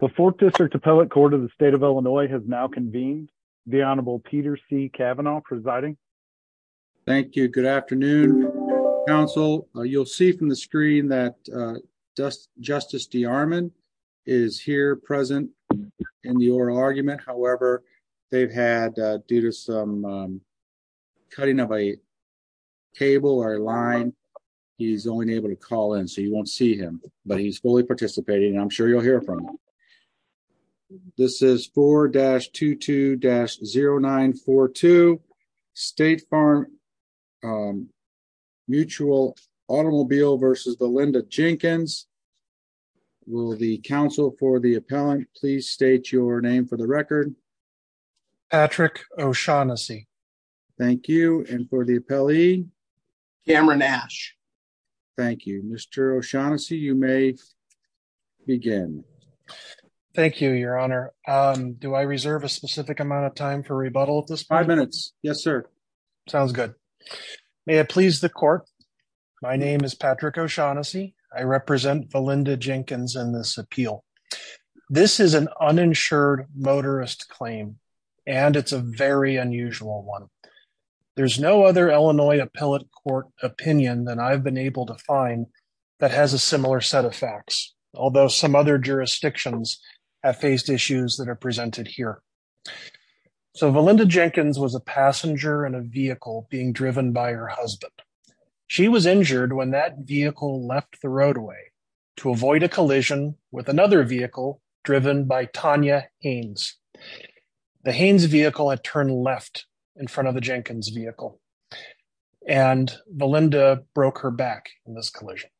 The Fourth District Appellate Court of the State of Illinois has now convened. The Honorable Peter C. Kavanaugh presiding. Thank you. Good afternoon, Council. You'll see from the screen that Justice DeArmond is here present in the oral argument. However, they've had, due to some cutting of a table or a line, he's only able to call in, so you won't see him. But he's fully participating, and I'm sure you'll hear from him. This is 4-22-0942, State Farm Mutual Automobile v. The Linda Jenkins. Will the counsel for the appellant please state your name for the record? Patrick O'Shaughnessy. Thank you. And for the appellee? Cameron Ash. Thank you. Mr. O'Shaughnessy, you may begin. Thank you, Your Honor. Do I reserve a specific amount of time for rebuttal at this point? Five minutes. Yes, sir. Sounds good. May it please the Court, my name is Patrick O'Shaughnessy. I represent the Linda Jenkins in this appeal. This is an uninsured motorist claim, and it's a very unusual one. There's no other Illinois appellate court opinion that I've been able to find that has a similar set of facts, although some other jurisdictions have faced issues that are presented here. So, the Linda Jenkins was a passenger in a vehicle being driven by her husband. She was injured when that vehicle left the roadway to avoid a collision with another vehicle driven by Tanya Haynes. The Haynes vehicle had turned left in front of the Jenkins vehicle, and the Linda broke her back in this collision.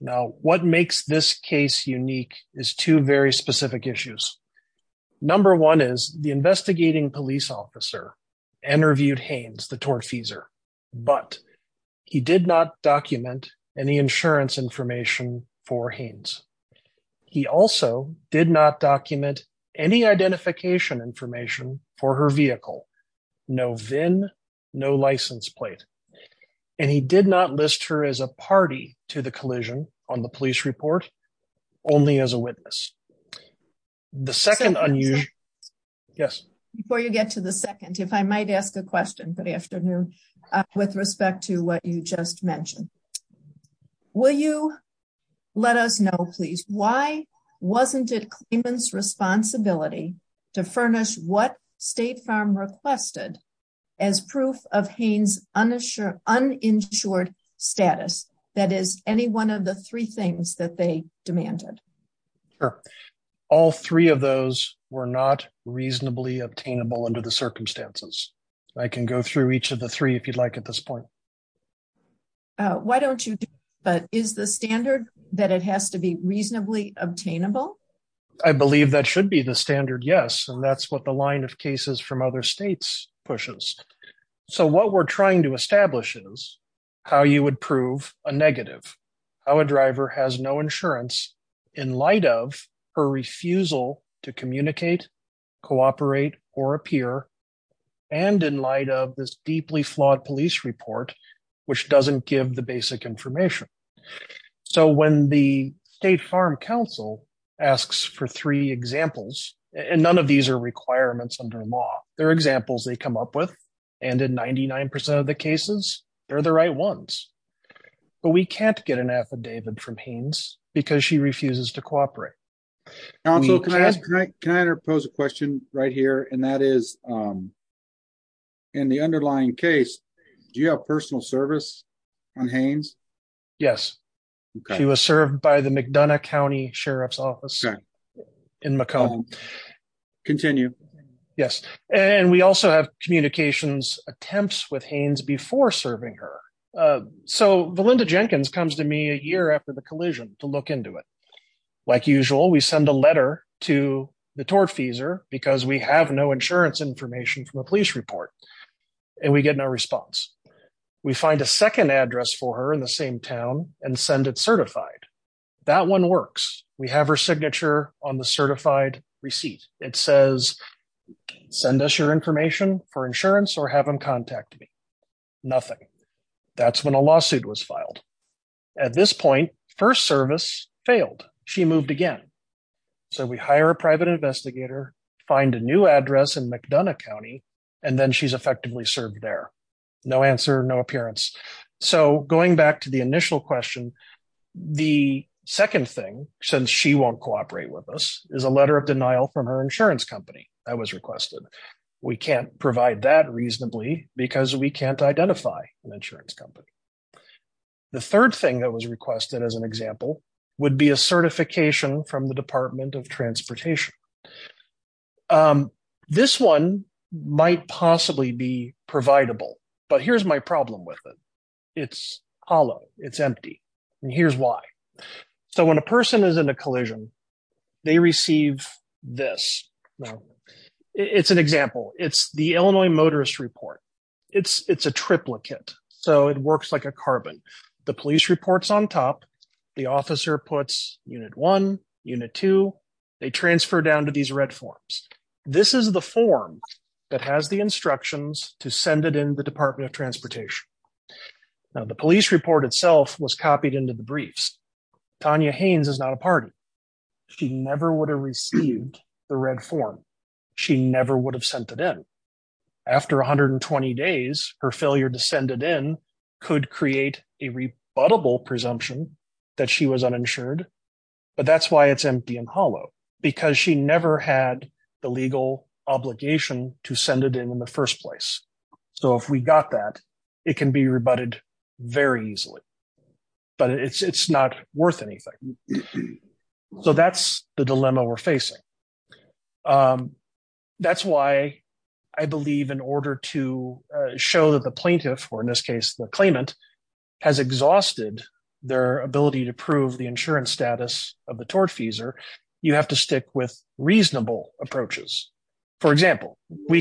Now, what makes this case unique is two very specific issues. Number one is the investigating police officer interviewed Haynes, the tortfeasor, but he did not document any identification information for her vehicle. No VIN, no license plate, and he did not list her as a party to the collision on the police report, only as a witness. The second unusual... Yes? Before you get to the second, if I might ask a question, good afternoon, with respect to what you just mentioned. Will you let us know, please, why wasn't it your responsibility to furnish what State Farm requested as proof of Haynes' uninsured status? That is, any one of the three things that they demanded. Sure. All three of those were not reasonably obtainable under the circumstances. I can go through each of the three if you'd like at this point. Why don't you do that? Is the standard that it has to be reasonably obtainable? I believe that should be the standard, yes, and that's what the line of cases from other states pushes. So, what we're trying to establish is how you would prove a negative, how a driver has no insurance in light of her refusal to communicate, cooperate, or appear, and in light of this deeply flawed police report, which doesn't give the basic information. So, when the State Farm Council asks for three examples, and none of these are requirements under law, they're examples they come up with, and in 99% of the cases, they're the right ones, but we can't get an affidavit from Haynes because she refuses to cooperate. Also, can I pose a question right here, and that is, in the underlying case, do you have personal service on Haynes? Yes, she was served by the Sheriff's Office in Macomb. Continue. Yes, and we also have communications attempts with Haynes before serving her. So, Valinda Jenkins comes to me a year after the collision to look into it. Like usual, we send a letter to the tortfeasor because we have no insurance information from the police report, and we get no response. We find a second address for her in the same town and send it certified. That one works. We have her signature on the certified receipt. It says, send us your information for insurance or have them contact me. Nothing. That's when a lawsuit was filed. At this point, first service failed. She moved again. So, we hire a private investigator, find a new address in McDonough County, and then she's effectively served there. No answer, no appearance. So, going back to the initial question, the second thing, since she won't cooperate with us, is a letter of denial from her insurance company that was requested. We can't provide that reasonably because we can't identify an insurance company. The third thing that was requested as an example would be a certification from the but here's my problem with it. It's hollow. It's empty. And here's why. So, when a person is in a collision, they receive this. It's an example. It's the Illinois Motorist Report. It's a triplicate. So, it works like a carbon. The police report's on top. The officer puts unit one, unit two. They transfer down to these red forms. This is the form that has the instructions to send it the Department of Transportation. Now, the police report itself was copied into the briefs. Tanya Haynes is not a party. She never would have received the red form. She never would have sent it in. After 120 days, her failure to send it in could create a rebuttable presumption that she was uninsured, but that's why it's empty and hollow because she never had the legal obligation to send it in in the first place. So, if we got that, it can be rebutted very easily, but it's not worth anything. So, that's the dilemma we're facing. That's why I believe in order to show that the plaintiff, or in this case the claimant, has exhausted their ability to prove the insurance status of the tortfeasor, you have to stick with We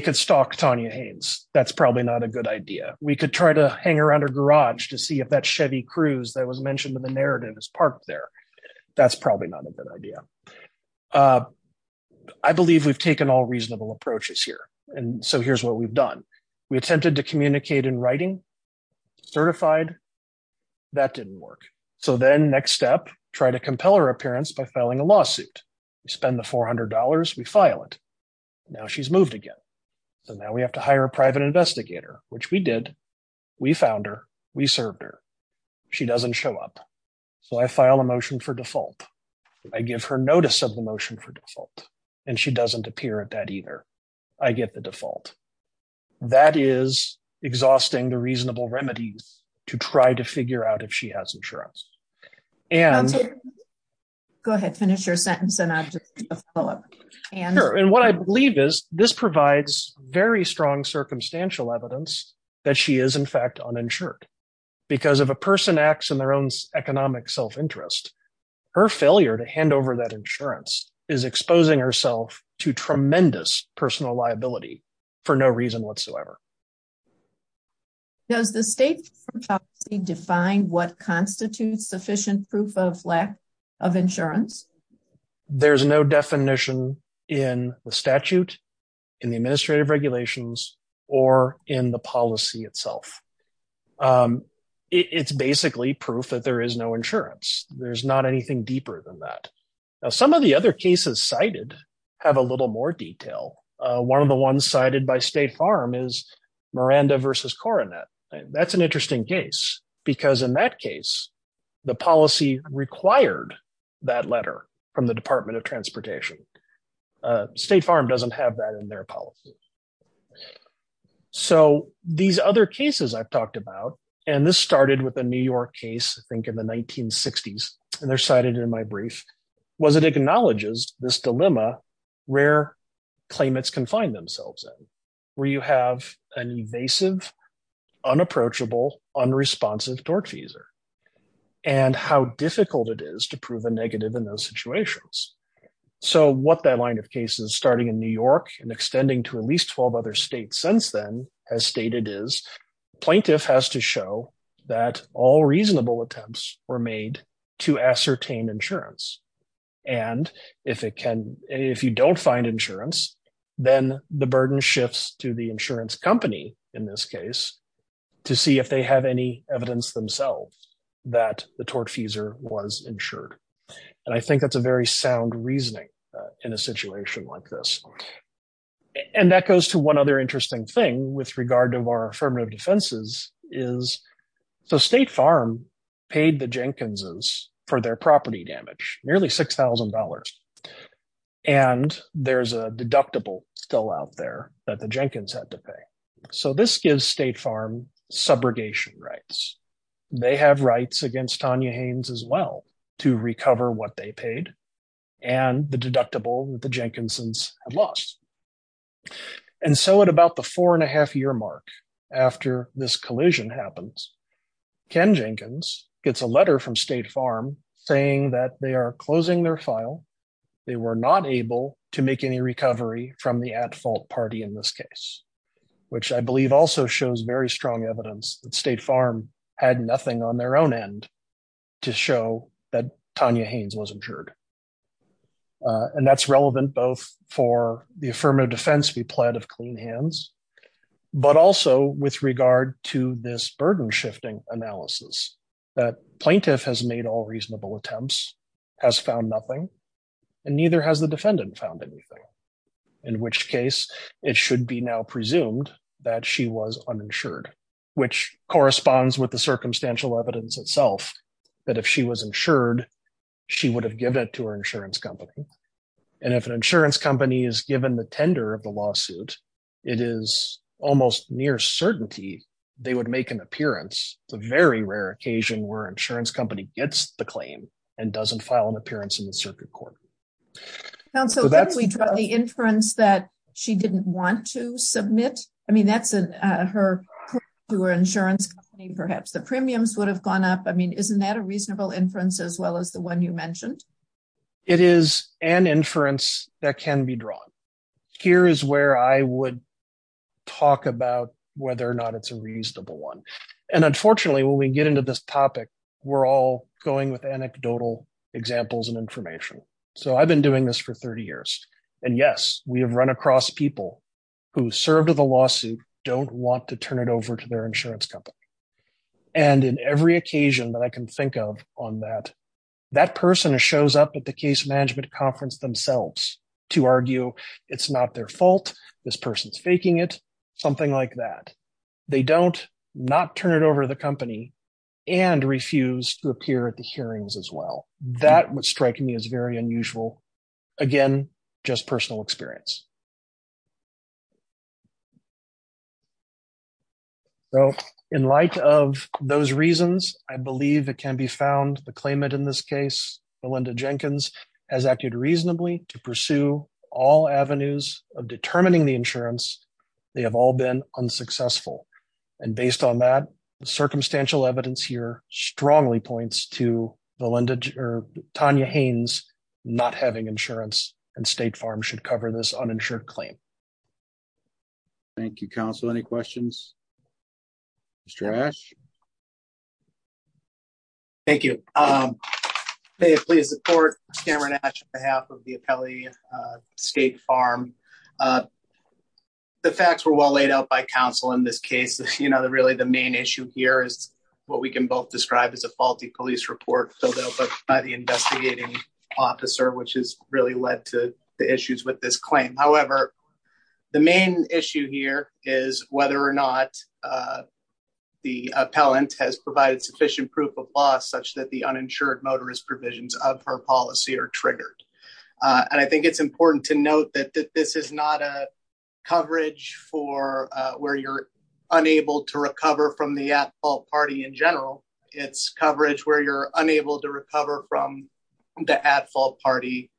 could stalk Tanya Haynes. That's probably not a good idea. We could try to hang around her garage to see if that Chevy Cruze that was mentioned in the narrative is parked there. That's probably not a good idea. I believe we've taken all reasonable approaches here, and so here's what we've done. We attempted to communicate in writing, certified. That didn't work. So then, next step, try to compel her appearance by filing a lawsuit. We spend the $400. We file it. Now she's moved again. So, now we have to hire a private investigator, which we did. We found her. We served her. She doesn't show up. So, I file a motion for default. I give her notice of the motion for default, and she doesn't appear at that either. I get the default. That is exhausting the reasonable remedies to try to figure out if she has insurance. Go ahead. Finish your sentence. Sure, and what I believe is this provides very strong circumstantial evidence that she is, in fact, uninsured because if a person acts in their own economic self-interest, her failure to hand over that insurance is exposing herself to tremendous personal liability for no reason whatsoever. Does the state policy define what constitutes sufficient proof of lack of insurance? There's no definition in the statute, in the administrative regulations, or in the policy itself. It's basically proof that there is no insurance. There's not anything deeper than that. Now, some of the other cases cited have a little more detail. One of the ones cited by State Farm is Miranda v. Coronet. That's an interesting case because in that case, the policy required that letter from the Department of Transportation. State Farm doesn't have that in their policy. These other cases I've talked about, and this started with a New York case, I think, in the 1960s, and they're cited in my brief, was it acknowledges this dilemma where claimants can find themselves in, where you have an invasive, unapproachable, unresponsive tortfeasor, and how difficult it is to prove a negative in those situations. What that line of cases, starting in New York and extending to at least 12 other states since then, has stated is, plaintiff has to show that all reasonable attempts were made to ascertain insurance. If you don't find insurance, then the burden shifts to the insurance company, in this case, to see if they have any evidence themselves that the tortfeasor was insured. I think that's a very sound reasoning in a situation like this. That goes to one other interesting thing with regard to our affirmative defenses. State Farm paid the Jenkinses for their property damage, nearly $6,000, and there's a deductible still out there that the Jenkins had to pay. So, this gives State Farm subrogation rights. They have rights against Tanya Haynes as well to recover what they paid, and the deductible that the Jenkinsons had lost. And so, at about the four and a half year mark, after this collision happens, Ken Jenkins gets a letter from State Farm saying that they are closing their file. They were not able to make any recovery from the at-fault party in this case, which I believe also shows very strong evidence that State Farm had nothing on their own end to show that Tanya Haynes was insured. And that's relevant both for the affirmative defense we pled of clean hands, but also with regard to this burden-shifting analysis that plaintiff has all reasonable attempts, has found nothing, and neither has the defendant found anything, in which case it should be now presumed that she was uninsured, which corresponds with the circumstantial evidence itself that if she was insured, she would have given it to her insurance company. And if an insurance company is given the tender of the lawsuit, it is almost near certainty they would make an appearance. It's a very rare occasion where an insurance company gets the claim and doesn't file an appearance in the circuit court. Counsel, if we draw the inference that she didn't want to submit, I mean, that's her to her insurance company, perhaps the premiums would have gone up. I mean, isn't that a reasonable inference as well as the one you mentioned? It is an inference that can be drawn. Here is where I would talk about whether or not it's a reasonable one. And unfortunately, when we get into this topic, we're all going with anecdotal examples and information. So I've been doing this for 30 years. And yes, we have run across people who served with a lawsuit, don't want to turn it over to their insurance company. And in every occasion that I can think of on that, that person shows up at the case management conference themselves to argue it's not their fault. This person's faking it, something like that. They don't not turn it over to the company and refuse to appear at the hearings as well. That was striking me as very unusual. Again, just personal experience. So in light of those reasons, I believe it can be found the claimant in this case, Melinda Jenkins, has acted reasonably to pursue all avenues of determining the insurance. They have all been unsuccessful. And based on that, the circumstantial evidence here strongly points to Tanya Haynes not having insurance and State Farm should cover this uninsured claim. Thank you, counsel. Any questions? Mr. Ash? Thank you. Please support Cameron Ash behalf of the appellee State Farm. The facts were well laid out by counsel in this case, you know, the really the main issue here is what we can both describe as a faulty police report filled out by the investigating officer, which is really led to the issues with this claim. However, the main issue here is whether or not the appellant has provided sufficient proof of law such that the uninsured motorist provisions of her policy are triggered. And I think it's important to note that this is not a coverage for where you're unable to recover from the at fault party in general. It's coverage where you're unable to recover from the at fault party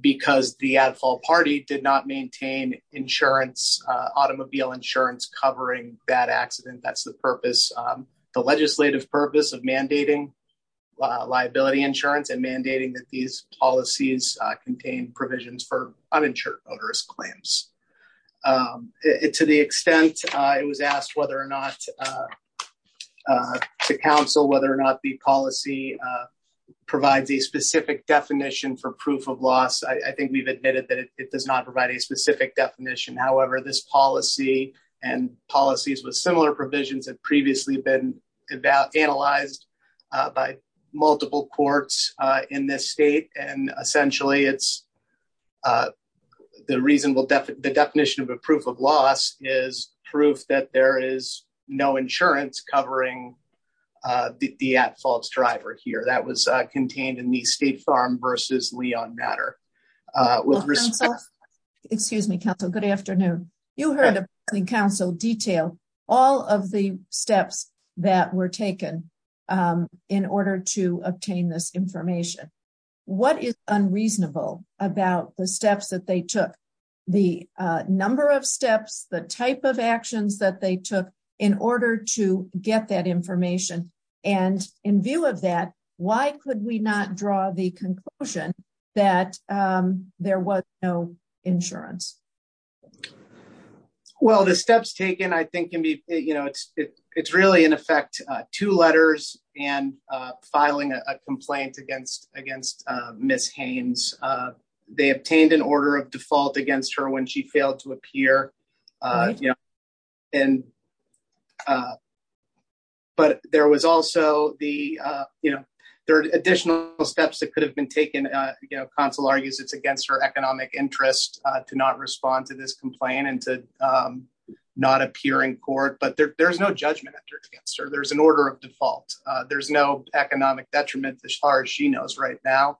because the at fault party did not maintain insurance automobile insurance covering that accident. That's the purpose, the legislative purpose of mandating liability insurance and mandating that these policies contain provisions for uninsured motorist claims. To the extent it was asked whether or not to counsel whether or not the policy provides a specific definition for proof of loss. I think we've admitted that it does not provide a specific definition. However, this policy and policies with similar provisions have previously been about analyzed by multiple courts in this state. And essentially, it's the reasonable definition of a proof of loss is proof that there is no insurance covering the at fault driver here that was contained in the state farm versus Leon matter with risk. Excuse me, counsel. Good afternoon. You heard the council detail all of the steps that were taken in order to obtain this information. What is unreasonable about the steps that they took the number of steps the type of actions that they took in order to get that there was no insurance. Well, the steps taken, I think, can be, you know, it's, it's really in effect, two letters and filing a complaint against against Miss Haynes. They obtained an order of default against her when she failed to appear. And but there was also the, you know, there are additional steps that could have been taken, you know, console argues it's against her economic interest to not respond to this complaint and to not appear in court, but there's no judgment against her, there's an order of default, there's no economic detriment as far as she knows right now.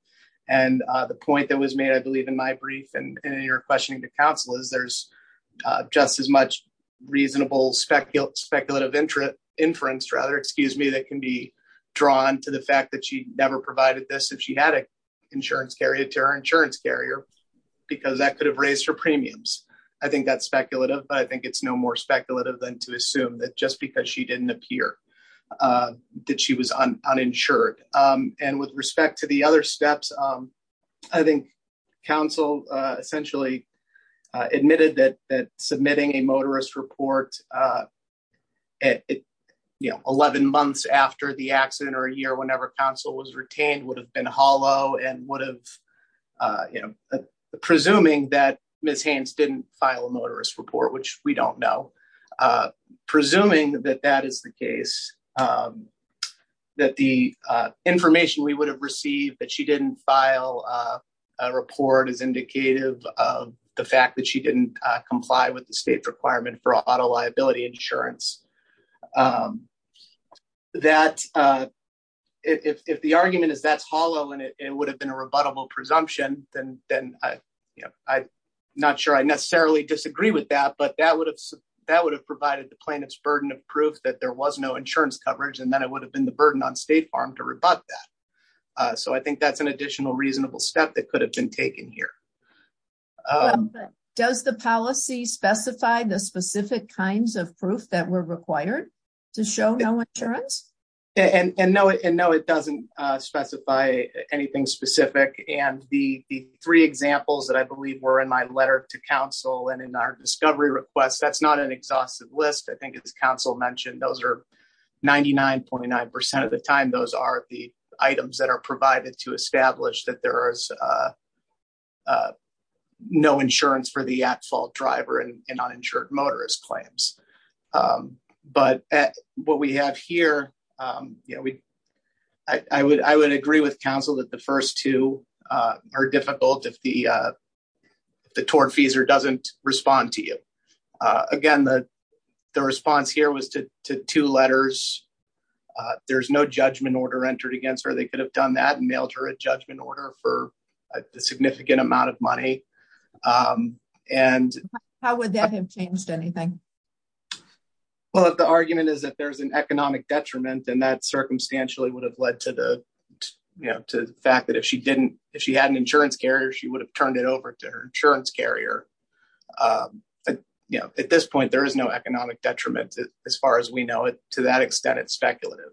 And the point that was made, I believe, in my brief, and you're questioning the council is there's just as much reasonable speculative speculative interest inference, rather, excuse me, that can be drawn to the fact that she never provided this if she had an insurance carrier to her insurance carrier, because that could have raised her premiums. I think that's speculative, but I think it's no more speculative than to assume that just because she didn't appear that she was uninsured. And with respect to the other steps, I think, council essentially admitted that submitting a motorist report at 11 months after the accident or a year, whenever counsel was retained would have been hollow and would have, you know, presuming that Ms. Haynes didn't file a motorist report, which we don't know, presuming that that is the case, that the information we would have received that she didn't file a report is indicative of the fact that she didn't comply with the state requirement for auto liability insurance. That if the argument is that's hollow, and it would have been a rebuttable presumption, then I'm not sure I necessarily disagree with that. But that would have that would have provided the plaintiff's burden of proof that there was no insurance coverage. And then it would have been the burden on State Farm to rebut that. So I think that's an additional reasonable step that could have been taken here. Does the policy specify the specific kinds of proof that were required to show no insurance? And no, it doesn't specify anything specific. And the three examples that I believe were in my letter to counsel and in our discovery requests, that's not an exhaustive list. I think it's council mentioned those are 99.9% of the time those are the items that are provided to establish that there is no insurance for the at fault driver and uninsured motorist claims. But what we have here, you know, we, I would I would agree with counsel that the first two are difficult if the the tortfeasor doesn't respond to you. Again, the response here was to two letters. There's no judgment order entered against her, they could have done that and mailed her a judgment order for a significant amount of money. And how would that have changed anything? Well, if the argument is that there's an economic detriment, and that circumstantially would have led to the, you know, to the fact that if she didn't, if she had an insurance carrier, she would have turned it over to her insurance carrier. But, you know, at this point, there is no economic detriment, as far as we know it, to that extent, it's speculative.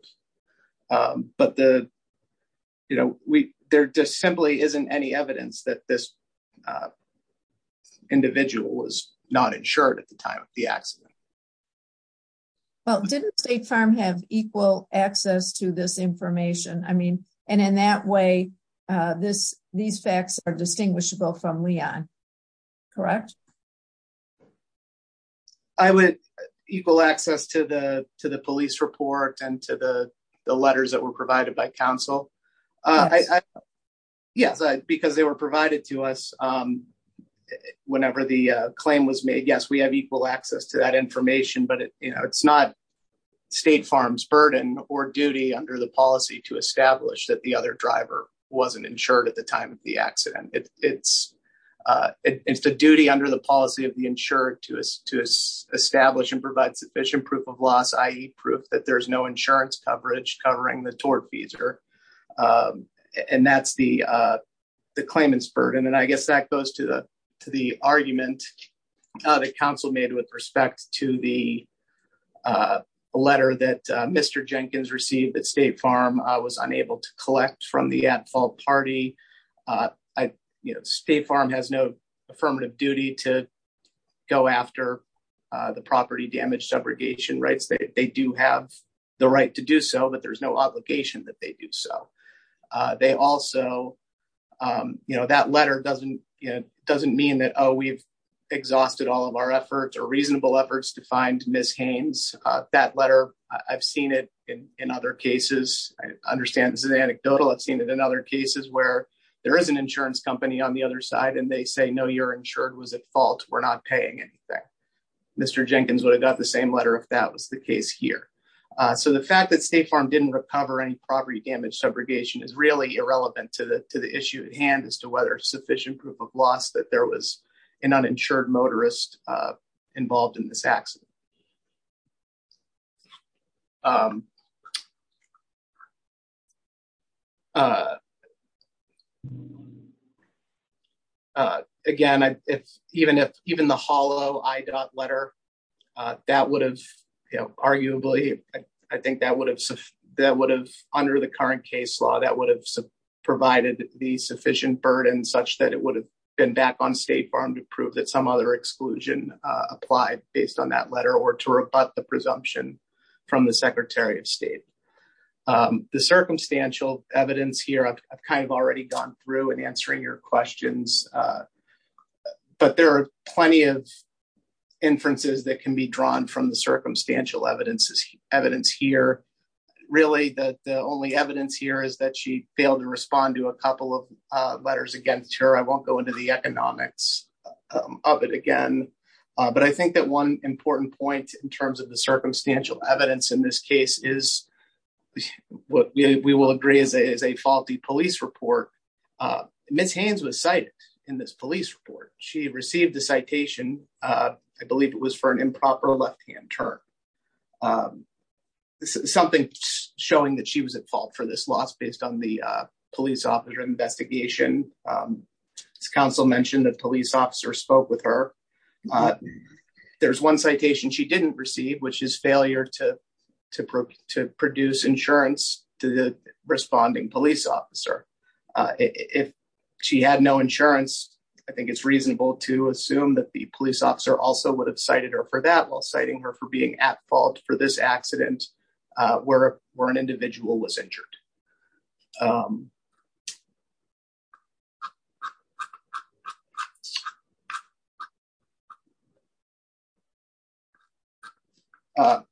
But the, you know, we, there just simply isn't any evidence that this individual was not insured at the time of the accident. Well, didn't State Farm have equal access to this information? I mean, and in that way, this, these facts are distinguishable from Leon, correct? I would equal access to the to the police report and to the letters that were provided by counsel. Yes, because they were provided to us. Whenever the claim was made, yes, we have equal access to that information. But it's not State Farm's burden or duty under the policy to establish that the other driver wasn't insured at the time of the accident. It's, it's the duty under the policy of the insured to establish and provide sufficient proof of loss, i.e. proof that there's no insurance coverage covering the tortfeasor. And that's the claimant's burden. And I guess that goes to the to the argument that counsel made with respect to the letter that Mr. Jenkins received that State Farm was unable to collect from the at fault party. I, you know, State Farm has no affirmative duty to go after the property damage subrogation rights, they do have the right to do so, but there's no obligation that they do so. They also, you know, that letter doesn't, you know, doesn't mean that, oh, we've exhausted all of our efforts or reasonable efforts to find Miss Haynes, that letter. I've seen it in other cases. I understand this is anecdotal. I've seen it in other cases where there is an insurance company on the other side, and they say no, you're insured was at fault. We're not paying anything. Mr. Jenkins would have got the same if that was the case here. So the fact that State Farm didn't recover any property damage subrogation is really irrelevant to the issue at hand as to whether sufficient proof of loss that there was an uninsured motorist involved in this accident. Again, even if even the hollow I dot letter, that would have, you know, arguably, I think that would have under the current case law, that would have provided the sufficient burden such that it would have been back on State Farm to prove that some other exclusion applied based on that letter or to rebut the presumption from the Secretary of State. The circumstantial evidence here, I've kind of already gone through and answering your questions. But there are plenty of inferences that can be drawn from the circumstantial evidence here. Really, the only evidence here is that she failed to respond to a couple of letters against her. I won't go into the economics of it again. But I think that one important point in terms of the circumstantial evidence in this case is what we will agree is a police report. Ms. Haynes was cited in this police report. She received a citation, I believe it was for an improper left-hand turn. Something showing that she was at fault for this loss based on the police officer investigation. Council mentioned that police officer spoke with her. There's one citation she didn't receive, which is failure to produce insurance to the police officer. If she had no insurance, I think it's reasonable to assume that the police officer also would have cited her for that while citing her for being at fault for this accident where an individual was injured.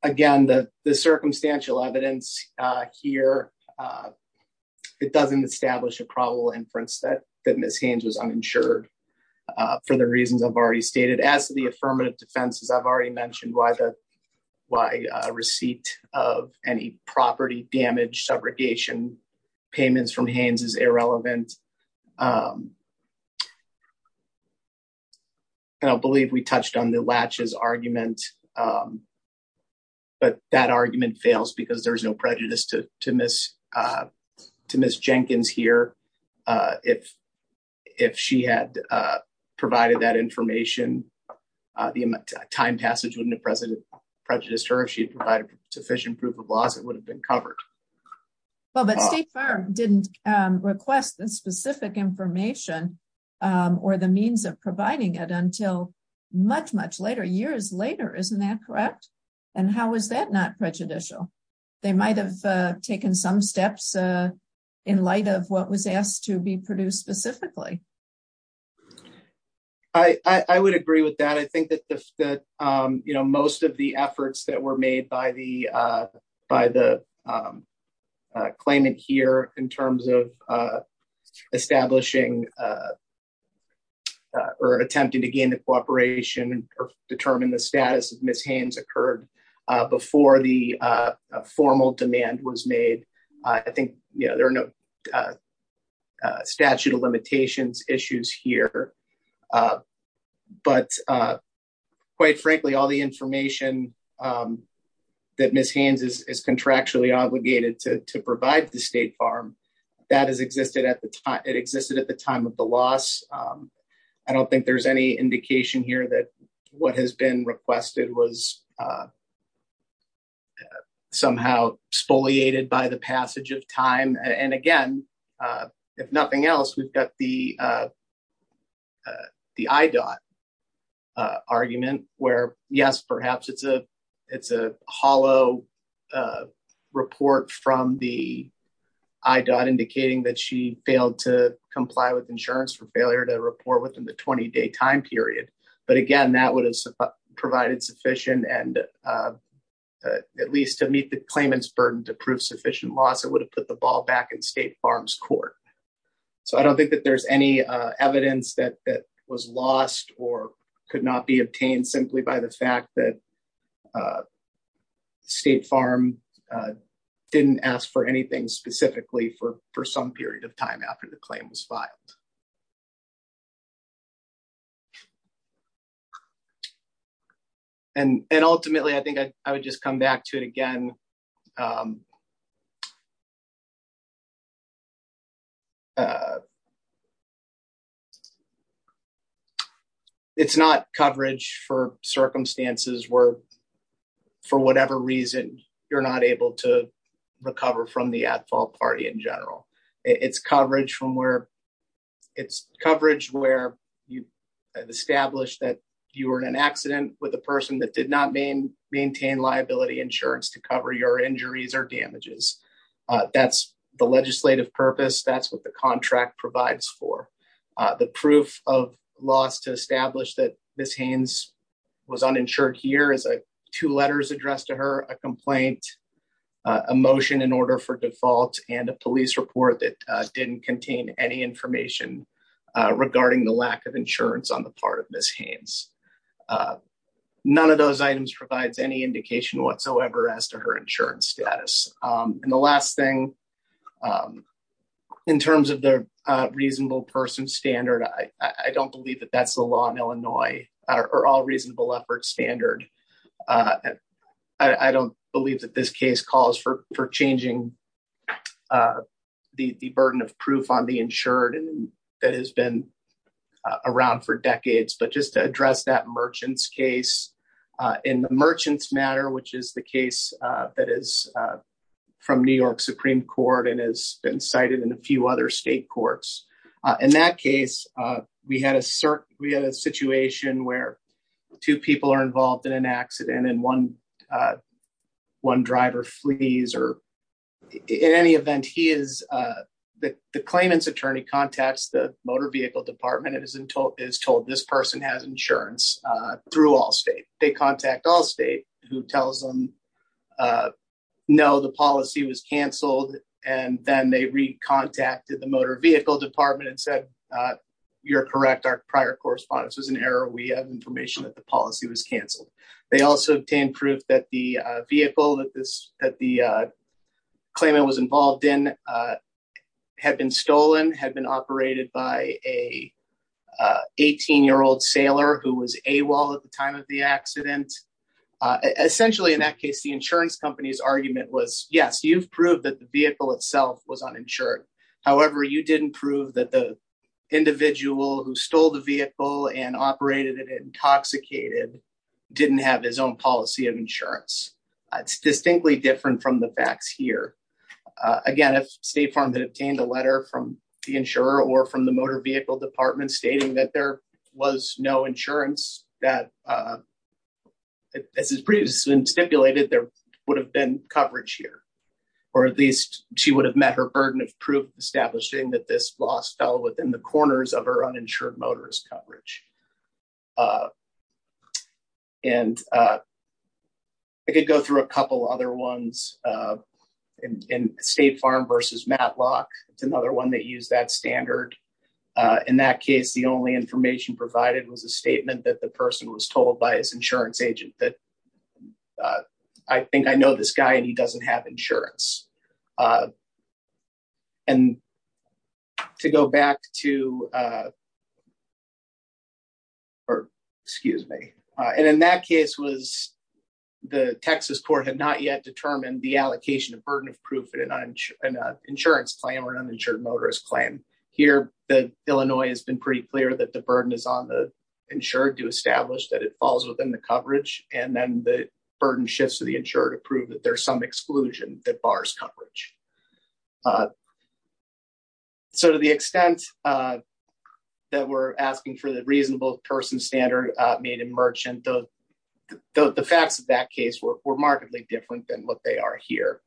Again, the circumstantial evidence here it doesn't establish a probable inference that Ms. Haynes was uninsured for the reasons I've already stated. As to the affirmative defenses, I've already mentioned why a receipt of any property damage, subrogation, payments from Haynes is irrelevant. And I believe we touched on the latches argument. But that argument fails because there's no Jenkins here. If she had provided that information, the time passage wouldn't have prejudiced her. If she had provided sufficient proof of loss, it would have been covered. But State Farm didn't request the specific information or the means of providing it until much, much later, years later. Isn't that correct? And how is that not prejudicial? They might have taken some steps in light of what was asked to be produced specifically. I would agree with that. I think that most of the efforts that were made by the claimant here in terms of establishing or attempting to gain the cooperation or determine the status of Ms. Haynes occurred before the formal demand was made. I think there are no statute of limitations issues here. But quite frankly, all the information that Ms. Haynes is contractually obligated to provide the State Farm, that has existed at the time of the loss. I don't think there's any indication here that what has been requested was somehow spoliated by the passage of time. And again, if nothing else, we've got the IDOT argument where yes, perhaps it's a hollow report from the IDOT indicating that she failed to comply with insurance for failure to report within the 20-day time period. But again, that would have provided sufficient and at least to meet the claimant's burden to prove sufficient loss, it would have put the ball back in State Farm's court. So I don't think that there's any evidence that was lost or could not be obtained simply by the fact that State Farm didn't ask for anything specifically for some period of time after the loss. And ultimately, I think I would just come back to it again. It's not coverage for circumstances where for whatever reason, you're not able to recover from the at-fault party in general. It's coverage where you've established that you were in an accident with a person that did not maintain liability insurance to cover your injuries or damages. That's the legislative purpose. That's what the contract provides for. The proof of loss to establish that Ms. Haynes was uninsured here is two letters addressed to her, a complaint, a motion in order for default, and a police report that didn't contain any information regarding the lack of insurance on the part of Ms. Haynes. None of those items provides any indication whatsoever as to her insurance status. And the last thing, in terms of the reasonable person standard, I don't believe that that's the law in Illinois or all reasonable standard. I don't believe that this case calls for changing the burden of proof on the insured that has been around for decades. But just to address that merchants case, in the merchants matter, which is the case that is from New York Supreme Court and has been cited in a few other state courts. In that case, we had a situation where two people are involved in an accident and one driver flees. In any event, the claimant's attorney contacts the motor vehicle department and is told this person has insurance through Allstate. They contact Allstate who tells them no, the policy was canceled. And then they re-contacted the motor vehicle department and said, you're correct, our prior correspondence was an error. We have information that the policy was canceled. They also obtained proof that the vehicle that the claimant was involved in had been stolen, had been operated by a 18-year-old sailor who was AWOL at the time of the accident. Essentially in that case, the insurance company's argument was, yes, you've proved that the vehicle itself was uninsured. However, you didn't prove that the individual who stole the vehicle and operated it intoxicated didn't have his own policy of insurance. It's distinctly different from the facts here. Again, if State Farm had obtained a letter from the insurer or from the motor vehicle department stating that there was no insurance, as has previously been stipulated, there would have been coverage here. Or at least she would have met her burden of proof establishing that this loss fell within the corners of her uninsured motorist coverage. I could go through a couple other ones in State Farm versus Matlock. It's another one that used that standard. In that case, the only information provided was a statement that the person was told by his insurance agent that, I think I know this guy and he doesn't have insurance. In that case, the Texas court had not yet determined the allocation of burden of proof in an insurance claim or an uninsured motorist claim. Here, Illinois has been pretty clear that the burden is on the insured to establish that it falls within the coverage. Then the burden shifts the insurer to prove that there's some exclusion that bars coverage. To the extent that we're asking for the reasonable person standard made in Merchant, the facts of that case were remarkably different than what they are here.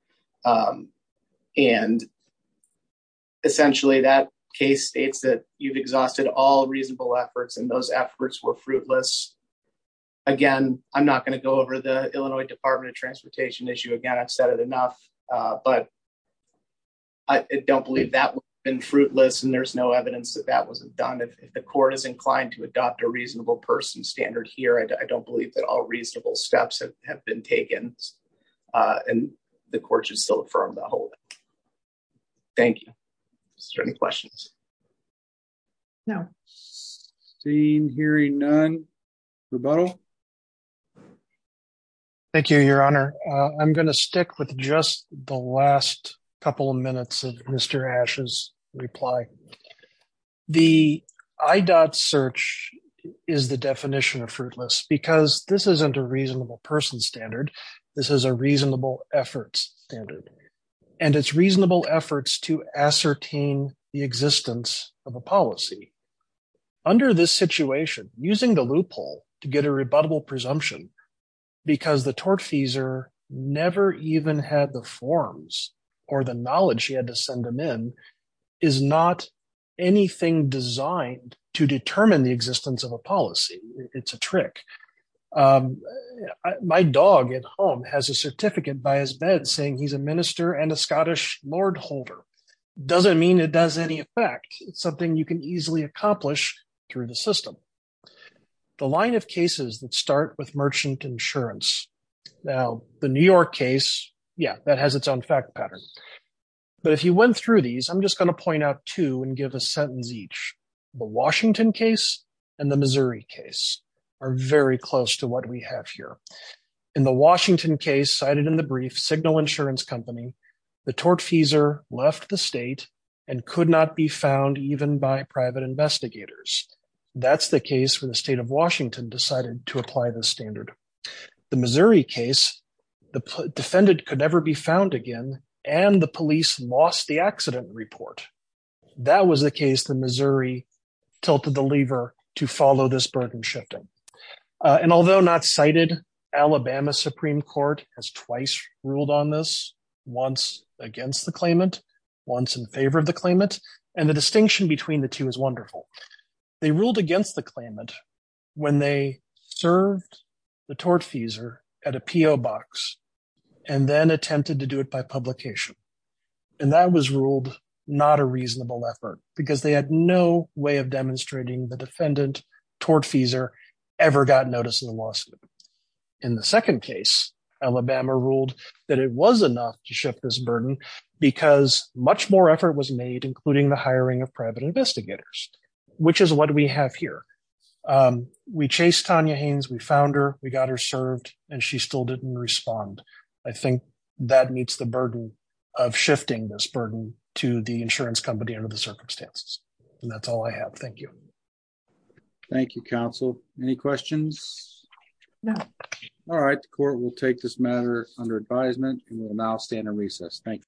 Essentially, that case states that you've exhausted all reasonable efforts and those efforts were fruitless. Again, I'm not going to go over the Illinois Department of Transportation issue again. I've said it enough. I don't believe that would have been fruitless and there's no evidence that that wasn't done. If the court is inclined to adopt a reasonable person standard here, I don't believe that all reasonable steps have been taken and the court should still affirm the whole thing. Thank you. Is there any questions? No. Seen, hearing none, rebuttal. Thank you, Your Honor. I'm going to stick with just the last couple of minutes of Mr. Asch's reply. The IDOT search is the definition of fruitless because this isn't a reasonable person standard. This is a reasonable efforts standard and it's reasonable efforts to ascertain the existence of a policy. Under this situation, using the loophole to get a rebuttable presumption because the tortfeasor never even had the forms or the knowledge he had to send them in is not anything designed to determine the existence of a policy. It's a trick. My dog at home has a certificate by his bed saying he's a minister and a Scottish lordholder. Doesn't mean it does any effect. It's something you can easily accomplish through the system. The line of cases that start with merchant insurance, now the New York case, yeah, that has its own fact pattern. But if you went through these, I'm just going to point out two and give a sentence each. The Washington case and the Missouri case are very close to what we have here. In the Washington case cited in the brief, Signal Insurance Company, the tortfeasor left the state and could not be found even by private investigators. That's the case where the state of Washington decided to apply this standard. The Missouri case, the defendant could never be found again and the police lost the accident report. That was the case that Missouri tilted the lever to follow this burden shifting. And although not cited, Alabama Supreme Court has twice ruled on this, once against the claimant, once in favor of the claimant. And the distinction between the two is wonderful. They ruled against the claimant when they served the tortfeasor at a P.O. box and then attempted to do it by publication. And that was ruled not a reasonable effort because they had no way of ever gotten notice of the lawsuit. In the second case, Alabama ruled that it was enough to shift this burden because much more effort was made, including the hiring of private investigators, which is what we have here. We chased Tanya Haynes, we found her, we got her served, and she still didn't respond. I think that meets the burden of shifting this burden to the insurance company under the circumstances. And that's all I have. Thank you. Thank you, counsel. Any questions? No. All right. The court will take this matter under advisement and will now stand in recess. Thank you.